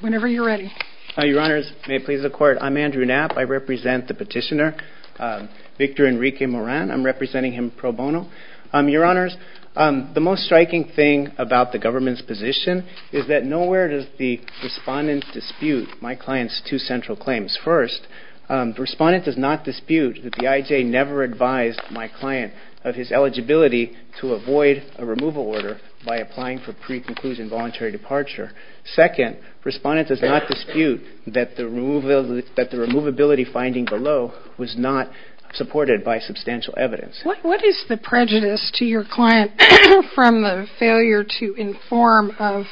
Whenever you're ready. Your Honours, may it please the Court, I'm Andrew Knapp. I represent the petitioner, Victor Enrique Moran. I'm representing him pro bono. Your Honours, the most striking thing about the government's position is that nowhere does the respondent dispute my client's two central claims. First, the respondent does not dispute that the IJ never advised my client of his eligibility to avoid a removal order by applying for pre-conclusion voluntary departure. Second, the respondent does not dispute that the removability finding below was not supported by substantial evidence. What is the prejudice to your client from the failure to inform of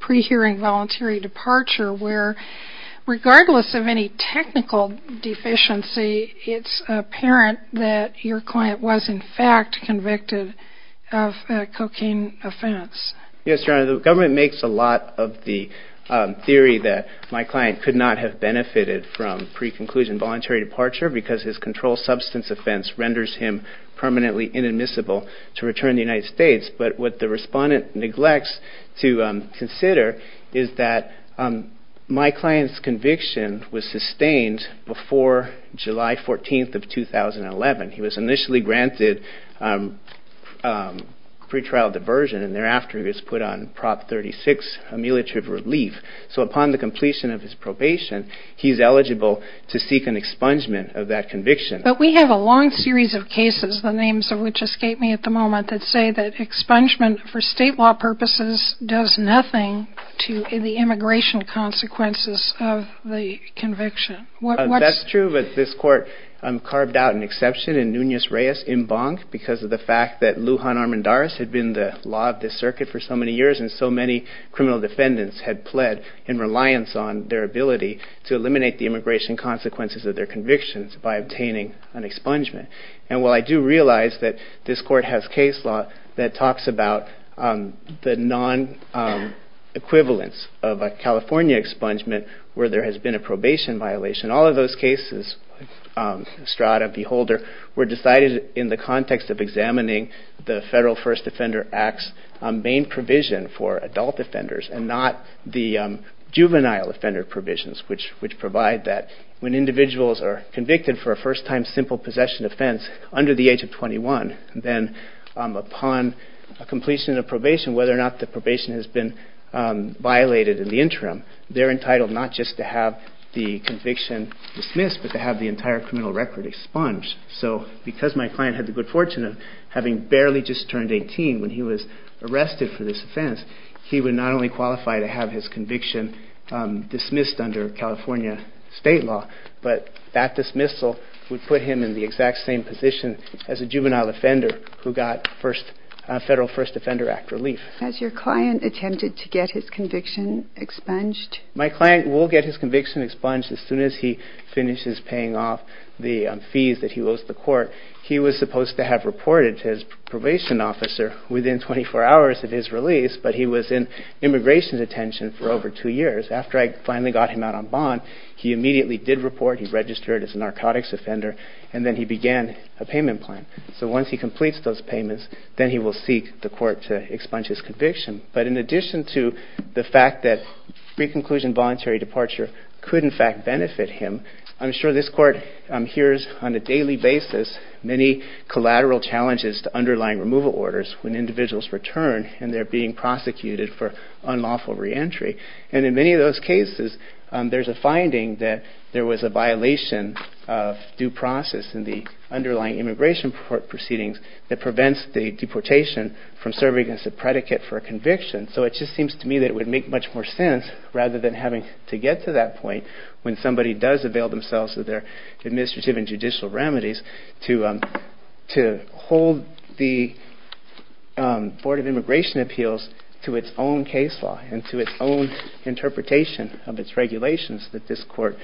pre-hearing voluntary departure where, regardless of any technical deficiency, it's apparent that your client was in fact convicted of a cocaine offense? Yes, Your Honours, the government makes a lot of the theory that my client could not have benefited from pre-conclusion voluntary departure because his controlled substance offense renders him permanently inadmissible to return to the United States. But what the respondent neglects to consider is that my client's conviction was sustained before July 14th of 2011. He was initially granted pretrial diversion and thereafter he was put on Prop 36 ameliorative relief. So upon the completion of his probation, he's eligible to seek an expungement of that conviction. But we have a long series of cases, the names of which escape me at the moment, that say that expungement for state law purposes does nothing to the immigration consequences of the conviction. That's true, but this court carved out an exception in Nunez-Reyes in Bonk because of the fact that Lujan Armendariz had been the law of the circuit for so many years and so many criminal defendants had pled in reliance on their ability to eliminate the immigration consequences of their convictions by obtaining an expungement. And while I do realize that this court has case law that talks about the non-equivalence of a California expungement where there has been a probation violation, all of those cases, Strada, Beholder, were decided in the context of examining the Federal First Offender Act's main provision for adult offenders and not the juvenile offender provisions which provide that when individuals are convicted for a first-time simple possession offense, under the age of 21, then upon completion of probation, whether or not the probation has been violated in the interim, they're entitled not just to have the conviction dismissed but to have the entire criminal record expunged. So because my client had the good fortune of having barely just turned 18 when he was arrested for this offense, he would not only qualify to have his conviction dismissed under California state law, but that dismissal would put him in the exact same position as a juvenile offender who got Federal First Offender Act relief. Has your client attempted to get his conviction expunged? My client will get his conviction expunged as soon as he finishes paying off the fees that he owes the court. He was supposed to have reported to his probation officer within 24 hours of his release, but he was in immigration detention for over two years. After I finally got him out on bond, he immediately did report. He registered as a narcotics offender, and then he began a payment plan. So once he completes those payments, then he will seek the court to expunge his conviction. But in addition to the fact that pre-conclusion voluntary departure could in fact benefit him, I'm sure this court hears on a daily basis many collateral challenges to underlying removal orders when individuals return and they're being prosecuted for unlawful reentry. And in many of those cases, there's a finding that there was a violation of due process in the underlying immigration proceedings that prevents the deportation from serving as a predicate for a conviction. So it just seems to me that it would make much more sense, rather than having to get to that point, when somebody does avail themselves of their administrative and judicial remedies, to hold the Board of Immigration Appeals to its own case law and to its own interpretation of its regulations that this court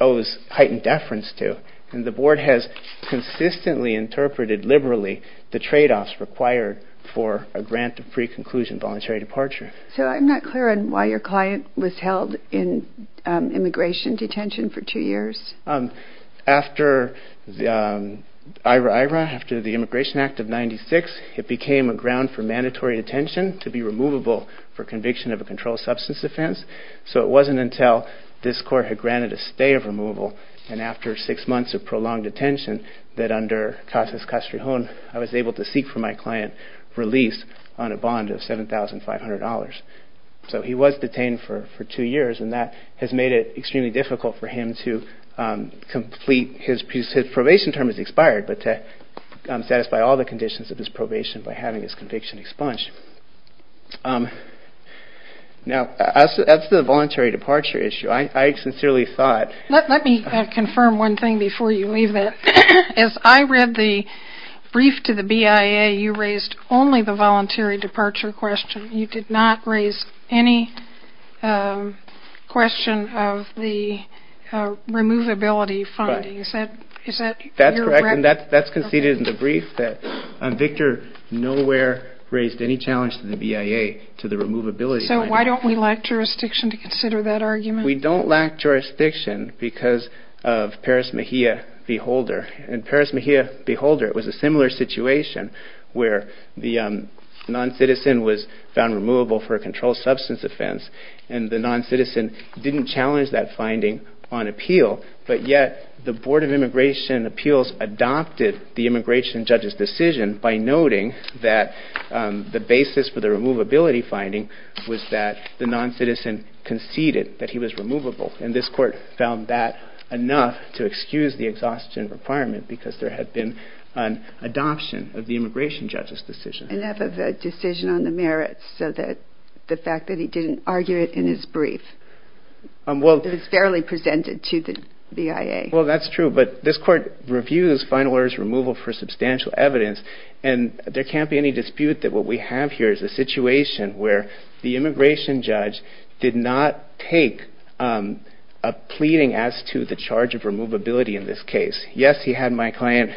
owes heightened deference to. And the board has consistently interpreted liberally the trade-offs required for a grant of pre-conclusion voluntary departure. So I'm not clear on why your client was held in immigration detention for two years. After the Immigration Act of 1996, it became a ground for mandatory detention to be removable for conviction of a controlled substance offense. So it wasn't until this court had granted a stay of removal and after six months of prolonged detention that under Cases Castrejon, I was able to seek for my client released on a bond of $7,500. So he was detained for two years, and that has made it extremely difficult for him to complete his probation term has expired, but to satisfy all the conditions of his probation by having his conviction expunged. Now, as to the voluntary departure issue, I sincerely thought... Victor did not raise any question of the removability findings. That's correct, and that's conceded in the brief that Victor nowhere raised any challenge to the BIA to the removability. So why don't we lack jurisdiction to consider that argument? We don't lack jurisdiction because of Paris Mejia v. Holder. In Paris Mejia v. Holder, it was a similar situation where the non-citizen was found removable for a controlled substance offense, and the non-citizen didn't challenge that finding on appeal, but yet the Board of Immigration Appeals adopted the immigration judge's decision by noting that the basis for the removability finding was that the non-citizen conceded that he was removable. And this court found that enough to excuse the exhaustion requirement because there had been an adoption of the immigration judge's decision. Enough of a decision on the merits so that the fact that he didn't argue it in his brief is fairly presented to the BIA. Well, that's true, but this court reviews final orders removal for substantial evidence, and there can't be any dispute that what we have here is a situation where the immigration judge did not take a pleading as to the charge of removability in this case. Yes, he had my client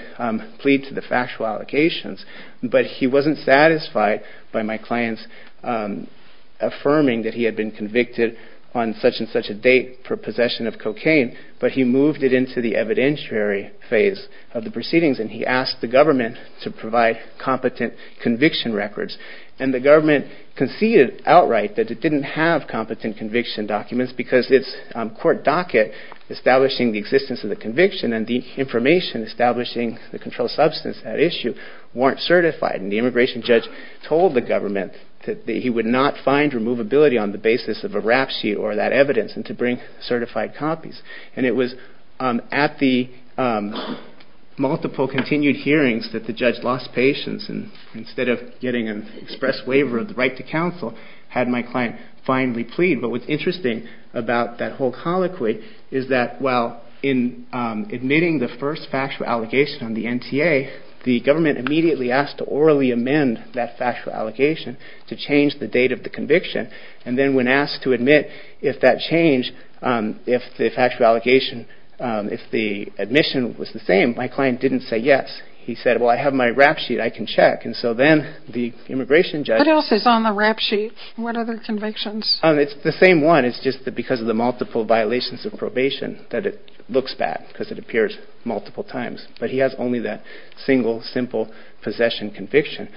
plead to the factual allocations, but he wasn't satisfied by my client's affirming that he had been convicted on such and such a date for possession of cocaine. But he moved it into the evidentiary phase of the proceedings, and he asked the government to provide competent conviction records. And the government conceded outright that it didn't have competent conviction documents because its court docket establishing the existence of the conviction and the information establishing the controlled substance at issue weren't certified. And the immigration judge told the government that he would not find removability on the basis of a rap sheet or that evidence and to bring certified copies. And it was at the multiple continued hearings that the judge lost patience and instead of getting an express waiver of the right to counsel, had my client finally plead. But what's interesting about that whole colloquy is that while in admitting the first factual allegation on the NTA, the government immediately asked to orally amend that factual allegation to change the date of the conviction. And then when asked to admit if that change, if the factual allegation, if the admission was the same, my client didn't say yes. He said, well, I have my rap sheet, I can check. And so then the immigration judge. What else is on the rap sheet? What other convictions? It's the same one. It's just that because of the multiple violations of probation that it looks bad because it appears multiple times. But he has only that single, simple possession conviction.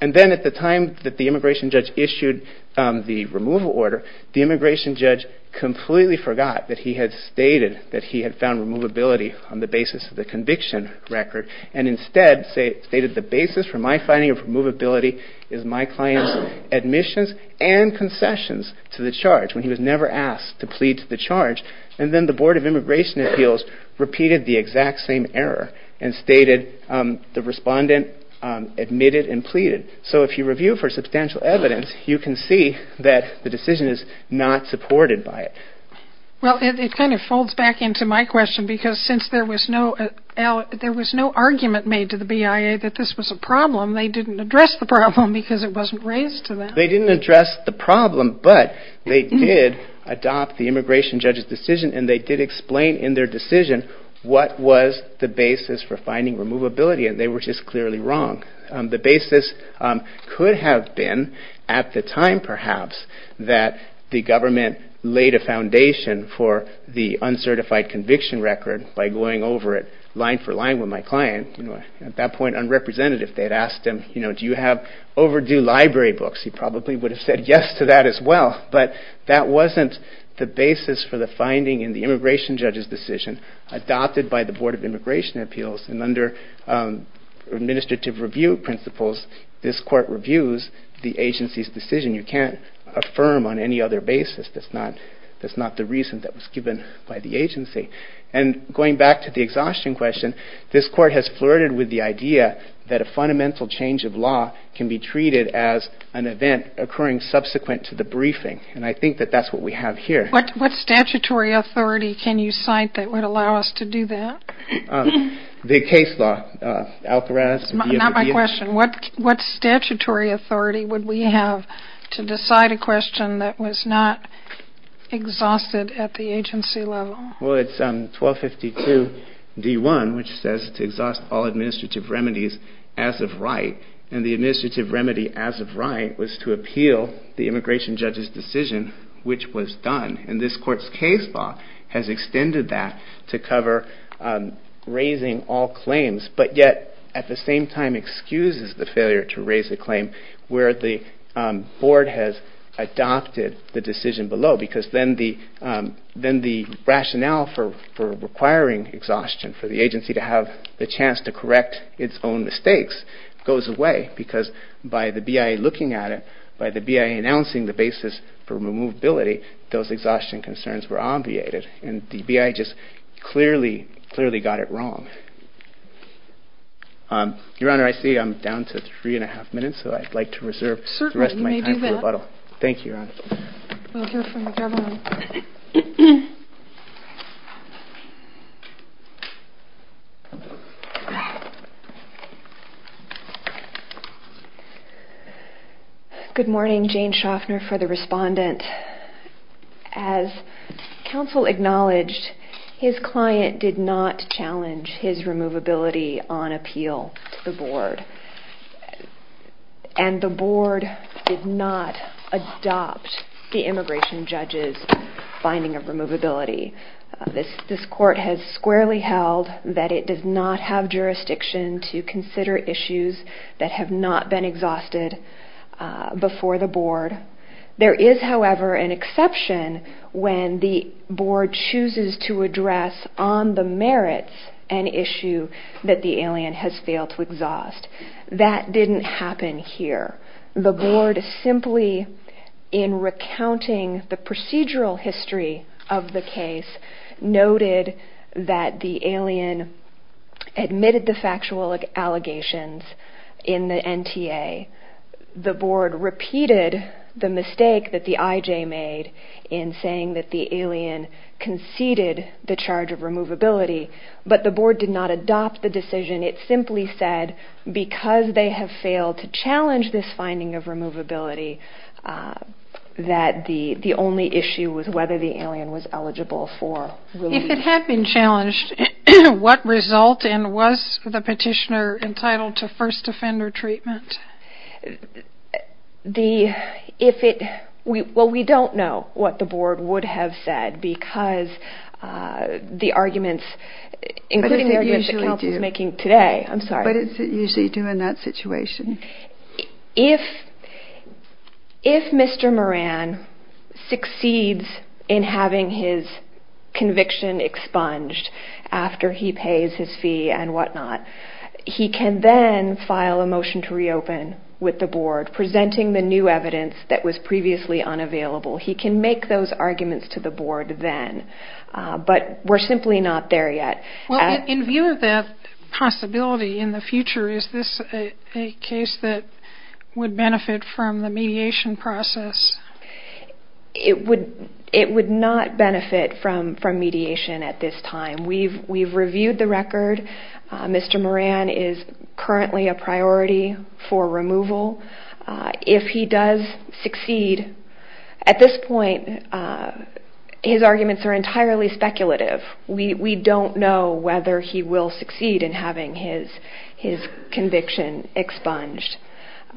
And then at the time that the immigration judge issued the removal order, the immigration judge completely forgot that he had stated that he had found removability on the basis of the conviction record. And instead stated the basis for my finding of removability is my client's admissions and concessions to the charge when he was never asked to plead to the charge. And then the Board of Immigration Appeals repeated the exact same error and stated the respondent admitted and pleaded. So if you review for substantial evidence, you can see that the decision is not supported by it. Well, it kind of folds back into my question because since there was no there was no argument made to the BIA that this was a problem, they didn't address the problem because it wasn't raised to them. They didn't address the problem, but they did adopt the immigration judge's decision and they did explain in their decision what was the basis for finding removability and they were just clearly wrong. The basis could have been at the time perhaps that the government laid a foundation for the uncertified conviction record by going over it line for line with my client. At that point, unrepresentative, they had asked him, you know, do you have overdue library books? He probably would have said yes to that as well, but that wasn't the basis for the finding in the immigration judge's decision adopted by the Board of Immigration Appeals. And under administrative review principles, this court reviews the agency's decision. You can't affirm on any other basis. That's not that's not the reason that was given by the agency. And going back to the exhaustion question, this court has flirted with the idea that a fundamental change of law can be treated as an event occurring subsequent to the briefing. And I think that that's what we have here. What statutory authority can you cite that would allow us to do that? The case law. Not my question. What statutory authority would we have to decide a question that was not exhausted at the agency level? Well, it's 1252 D1, which says to exhaust all administrative remedies as of right. And the administrative remedy as of right was to appeal the immigration judge's decision, which was done. And this court's case law has extended that to cover raising all claims, but yet at the same time excuses the failure to raise a claim where the board has adopted the decision below. Because then the then the rationale for requiring exhaustion for the agency to have the chance to correct its own mistakes goes away. Because by the BIA looking at it, by the BIA announcing the basis for movability, those exhaustion concerns were obviated. And the BIA just clearly, clearly got it wrong. Your Honor, I see I'm down to three and a half minutes, so I'd like to reserve the rest of my time for rebuttal. Thank you, Your Honor. Thank you from the government. Good morning, Jane Shoffner for the respondent. As counsel acknowledged, his client did not challenge his removability on appeal to the board. And the board did not adopt the immigration judge's finding of removability. This court has squarely held that it does not have jurisdiction to consider issues that have not been exhausted before the board. There is, however, an exception when the board chooses to address on the merits an issue that the alien has failed to exhaust. That didn't happen here. The board simply in recounting the procedural history of the case noted that the alien admitted the factual allegations in the NTA. The board repeated the mistake that the IJ made in saying that the alien conceded the charge of removability. But the board did not adopt the decision. It simply said because they have failed to challenge this finding of removability that the only issue was whether the alien was eligible for release. If it had been challenged, what result? And was the petitioner entitled to first offender treatment? Well, we don't know what the board would have said because the arguments, including the arguments that counsel is making today. I'm sorry. But is it usually due in that situation? If Mr. Moran succeeds in having his conviction expunged after he pays his fee and whatnot, he can then file a motion to reopen with the board, presenting the new evidence that was previously unavailable. He can make those arguments to the board then. But we're simply not there yet. In view of that possibility in the future, is this a case that would benefit from the mediation process? It would not benefit from mediation at this time. We've reviewed the record. Mr. Moran is currently a priority for removal. If he does succeed, at this point his arguments are entirely speculative. We don't know whether he will succeed in having his conviction expunged.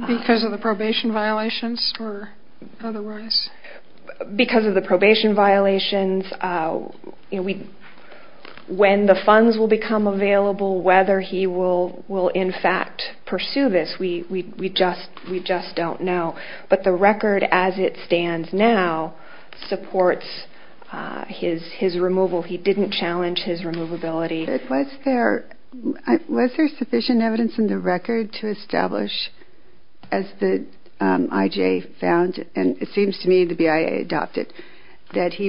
Because of the probation violations or otherwise? Because of the probation violations, when the funds will become available, whether he will in fact pursue this, we just don't know. But the record as it stands now supports his removal. He didn't challenge his removability. Was there sufficient evidence in the record to establish, as the IJA found, and it seems to me the BIA adopted, that he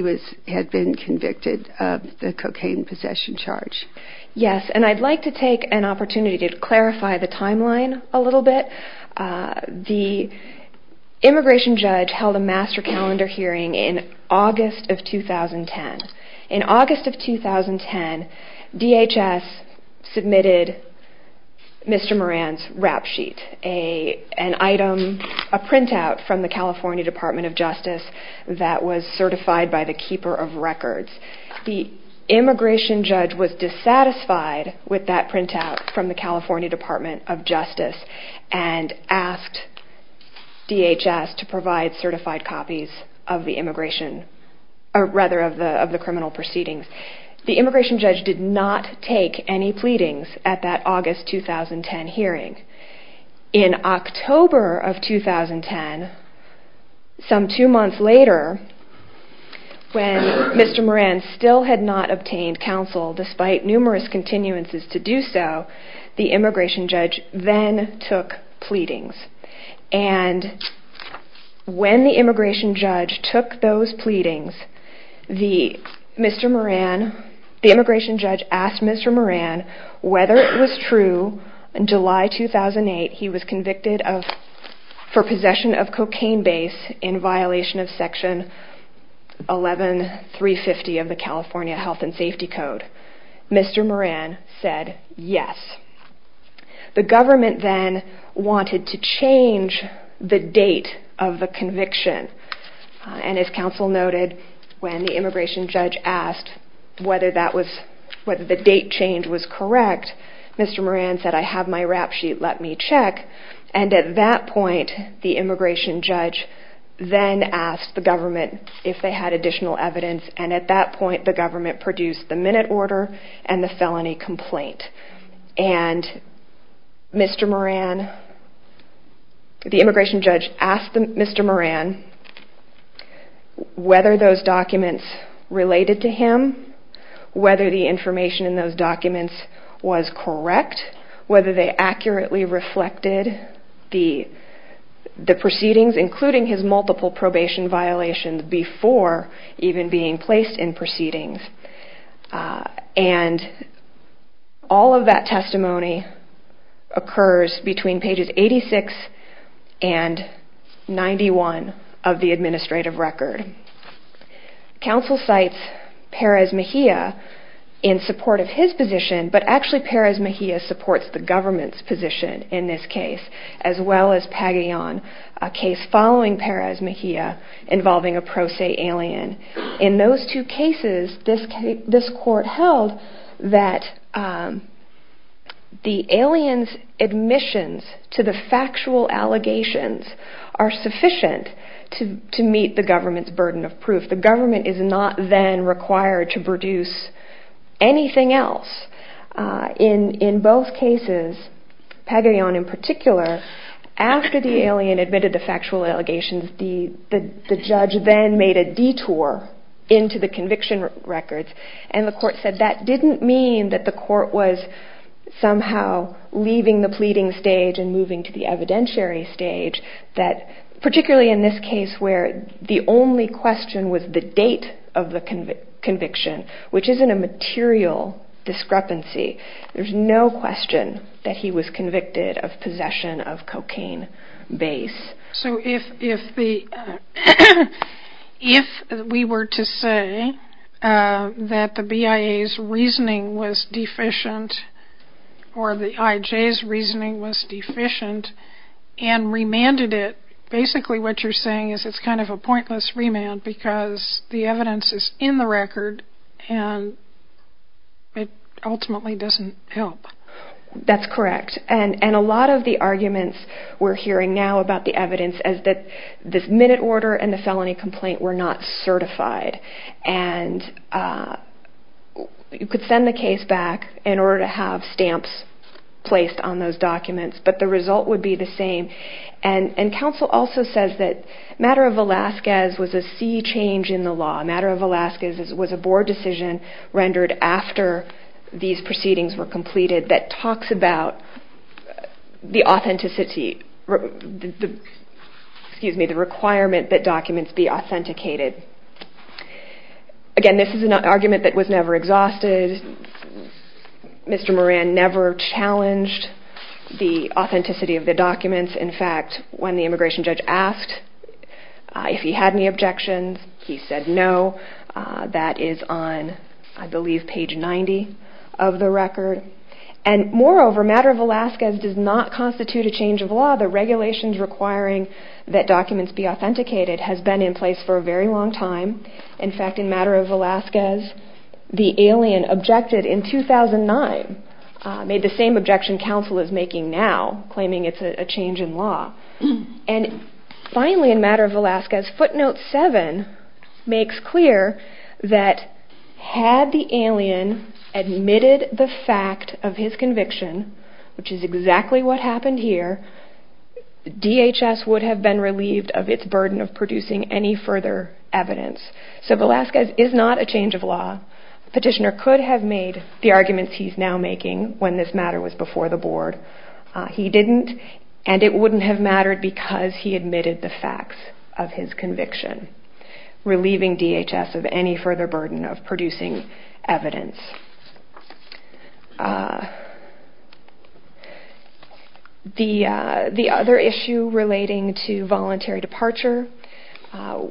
had been convicted of the cocaine possession charge? Yes, and I'd like to take an opportunity to clarify the timeline a little bit. The immigration judge held a master calendar hearing in August of 2010. In August of 2010, DHS submitted Mr. Moran's rap sheet, a printout from the California Department of Justice that was certified by the Keeper of Records. The immigration judge was dissatisfied with that printout from the California Department of Justice and asked DHS to provide certified copies of the criminal proceedings. The immigration judge did not take any pleadings at that August 2010 hearing. In October of 2010, some two months later, when Mr. Moran still had not obtained counsel, despite numerous continuances to do so, the immigration judge then took pleadings. And when the immigration judge took those pleadings, the immigration judge asked Mr. Moran whether it was true in July 2008 he was convicted for possession of cocaine base in violation of Section 11350 of the California Health and Safety Code. Mr. Moran said yes. The government then wanted to change the date of the conviction, and as counsel noted, when the immigration judge asked whether the date change was correct, Mr. Moran said, I have my rap sheet, let me check. And at that point, the immigration judge then asked the government if they had additional evidence, and at that point the government produced the minute order and the felony complaint. And Mr. Moran, the immigration judge asked Mr. Moran whether those documents related to him, whether the information in those documents was correct, whether they accurately reflected the proceedings, including his multiple probation violations before even being placed in proceedings. And all of that testimony occurs between pages 86 and 91 of the administrative record. Counsel cites Perez Mejia in support of his position, but actually Perez Mejia supports the government's position in this case, as well as Pagayan, a case following Perez Mejia involving a pro se alien. In those two cases, this court held that the alien's admissions to the factual allegations are sufficient to meet the government's burden of proof. The government is not then required to produce anything else. In both cases, Pagayan in particular, after the alien admitted to factual allegations, the judge then made a detour into the conviction records, and the court said that didn't mean that the court was somehow leaving the pleading stage and moving to the evidentiary stage, particularly in this case where the only question was the date of the conviction, which isn't a material discrepancy. There's no question that he was convicted of possession of cocaine base. So if we were to say that the BIA's reasoning was deficient, or the IJ's reasoning was deficient, and remanded it, basically what you're saying is it's kind of a pointless remand because the evidence is in the record and it ultimately doesn't help. That's correct, and a lot of the arguments we're hearing now about the evidence is that this minute order and the felony complaint were not certified, and you could send the case back in order to have stamps placed on those documents, but the result would be the same. And counsel also says that matter of Velazquez was a sea change in the law. Matter of Velazquez was a board decision rendered after these proceedings were completed that talks about the requirement that documents be authenticated. Again, this is an argument that was never exhausted. Mr. Moran never challenged the authenticity of the documents. In fact, when the immigration judge asked if he had any objections, he said no. That is on, I believe, page 90 of the record. And moreover, matter of Velazquez does not constitute a change of law. The regulations requiring that documents be authenticated has been in place for a very long time. In fact, in matter of Velazquez, the alien objected in 2009, made the same objection counsel is making now, claiming it's a change in law. And finally, in matter of Velazquez, footnote 7 makes clear that had the alien admitted the fact of his conviction, which is exactly what happened here, DHS would have been relieved of its burden of producing any further evidence. So Velazquez is not a change of law. Petitioner could have made the arguments he's now making when this matter was before the board. He didn't, and it wouldn't have mattered because he admitted the facts of his conviction, relieving DHS of any further burden of producing evidence. The other issue relating to voluntary departure,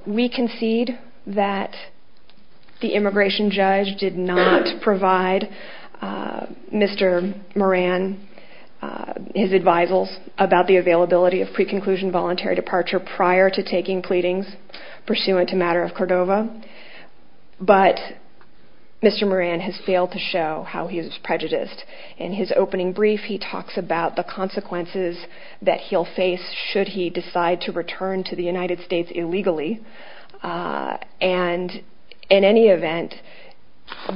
we concede that the immigration judge did not provide Mr. Moran his advisals about the availability of pre-conclusion voluntary departure prior to taking pleadings, pursuant to matter of Cordova. But Mr. Moran has failed to show how he is prejudiced. In his opening brief, he talks about the consequences that he'll face should he decide to return to the United States illegally. And in any event,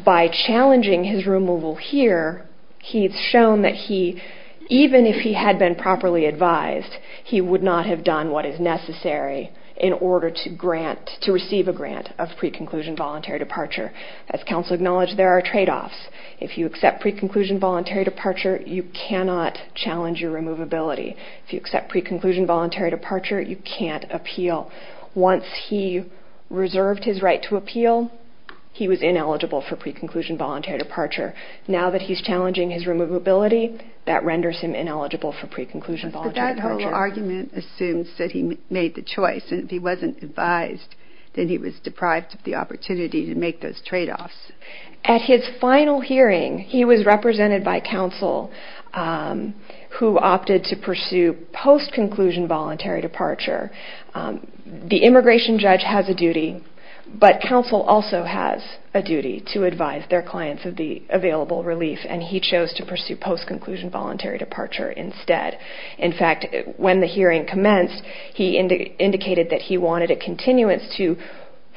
by challenging his removal here, he's shown that he, even if he had been properly advised, he would not have done what is necessary in order to grant, to receive a grant of pre-conclusion voluntary departure. As counsel acknowledged, there are tradeoffs. If you accept pre-conclusion voluntary departure, you cannot challenge your removability. If you accept pre-conclusion voluntary departure, you can't appeal. Once he reserved his right to appeal, he was ineligible for pre-conclusion voluntary departure. Now that he's challenging his removability, that renders him ineligible for pre-conclusion voluntary departure. But that whole argument assumes that he made the choice. And if he wasn't advised, then he was deprived of the opportunity to make those tradeoffs. At his final hearing, he was represented by counsel who opted to pursue post-conclusion voluntary departure. The immigration judge has a duty, but counsel also has a duty to advise their clients of the available relief, and he chose to pursue post-conclusion voluntary departure instead. In fact, when the hearing commenced, he indicated that he wanted a continuance to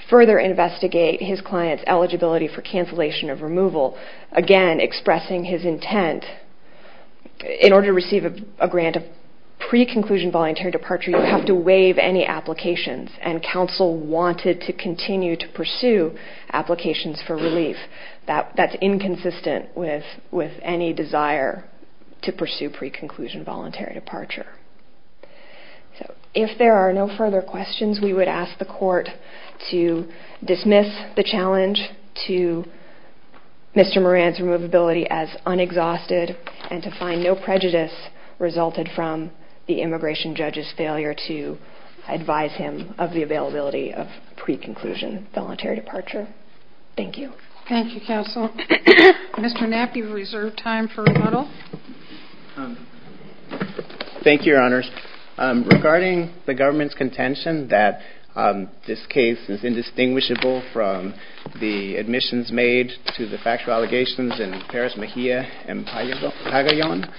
further investigate his client's eligibility for cancellation of removal, again, expressing his intent. In order to receive a grant of pre-conclusion voluntary departure, you have to waive any applications, and counsel wanted to continue to pursue applications for relief. That's inconsistent with any desire to pursue pre-conclusion voluntary departure. If there are no further questions, we would ask the court to dismiss the challenge to Mr. Moran's removability as unexhausted and to find no prejudice resulted from the immigration judge's failure to advise him of the availability of pre-conclusion voluntary departure. Thank you. Thank you, counsel. Mr. Knapp, you have reserved time for rebuttal. Thank you, Your Honors. Regarding the government's contention that this case is indistinguishable from the admissions made to the factual allegations in Perez Mejia and Pagayan,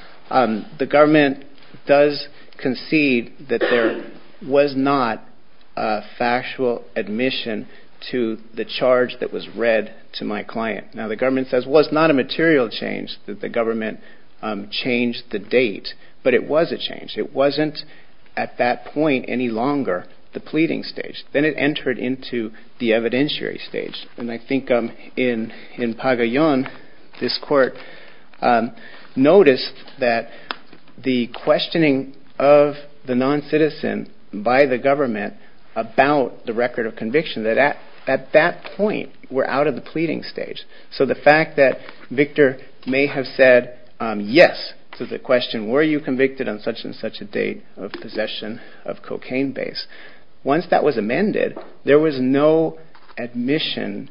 the government does concede that there was not a factual admission to the charge that was read to my client. Now, the government says, well, it's not a material change that the government changed the date, but it was a change. It wasn't at that point any longer the pleading stage. Then it entered into the evidentiary stage, and I think in Pagayan this court noticed that the questioning of the noncitizen by the government about the record of conviction, that at that point we're out of the pleading stage. So the fact that Victor may have said yes to the question, were you convicted on such and such a date of possession of cocaine base, once that was amended, there was no admission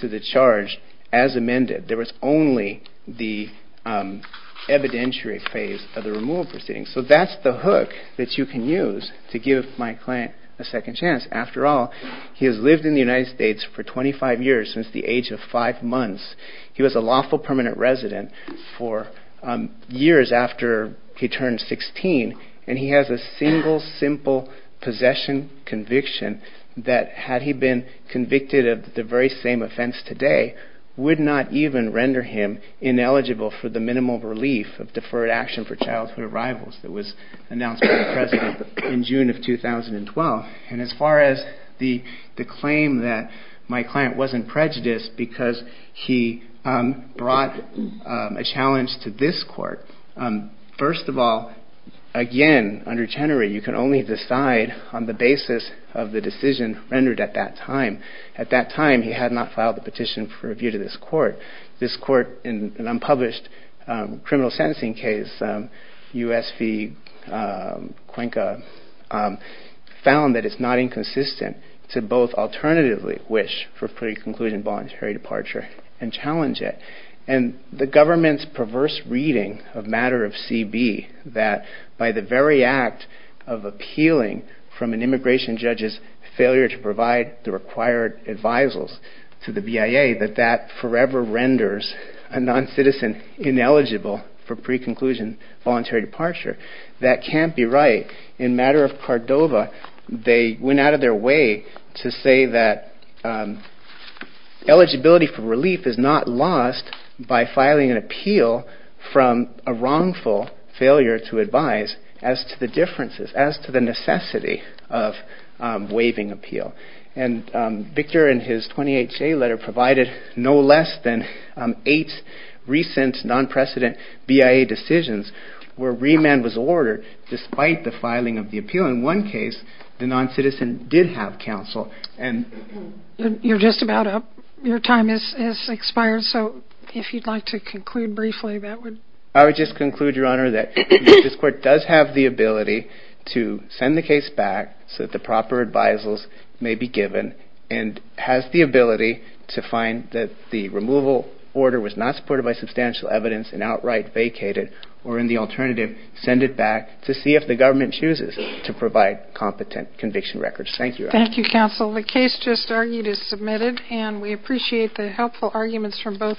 to the charge as amended. There was only the evidentiary phase of the removal proceedings. So that's the hook that you can use to give my client a second chance. After all, he has lived in the United States for 25 years, since the age of five months. He was a lawful permanent resident for years after he turned 16, and he has a single simple possession conviction that had he been convicted of the very same offense today would not even render him ineligible for the minimal relief of deferred action for childhood arrivals that was announced by the president in June of 2012. And as far as the claim that my client wasn't prejudiced because he brought a challenge to this court, first of all, again, under Chenery, you can only decide on the basis of the decision rendered at that time. At that time, he had not filed the petition for review to this court. This court in an unpublished criminal sentencing case, U.S. v. Cuenca, found that it's not inconsistent to both alternatively wish for pre-conclusion voluntary departure and challenge it. And the government's perverse reading of matter of CB, that by the very act of appealing from an immigration judge's failure to provide the required advisals to the BIA, that that forever renders a noncitizen ineligible for pre-conclusion voluntary departure. That can't be right. In matter of Cordova, they went out of their way to say that eligibility for relief is not lost by filing an appeal from a wrongful failure to advise as to the differences, as to the necessity of waiving appeal. And Victor, in his 20HA letter, provided no less than eight recent non-precedent BIA decisions in the United States. And I would just conclude, Your Honor, that this court does have the ability to send the case back so that the proper advisals may be given and has the ability to find that the removal order was not supported by substantial evidence and outright vacated, or in the alternative, send it back to see if the government chooses to provide competent conviction records. Thank you, Your Honor. Thank you, Counsel. The case just argued is submitted, and we appreciate the helpful arguments from both counsel.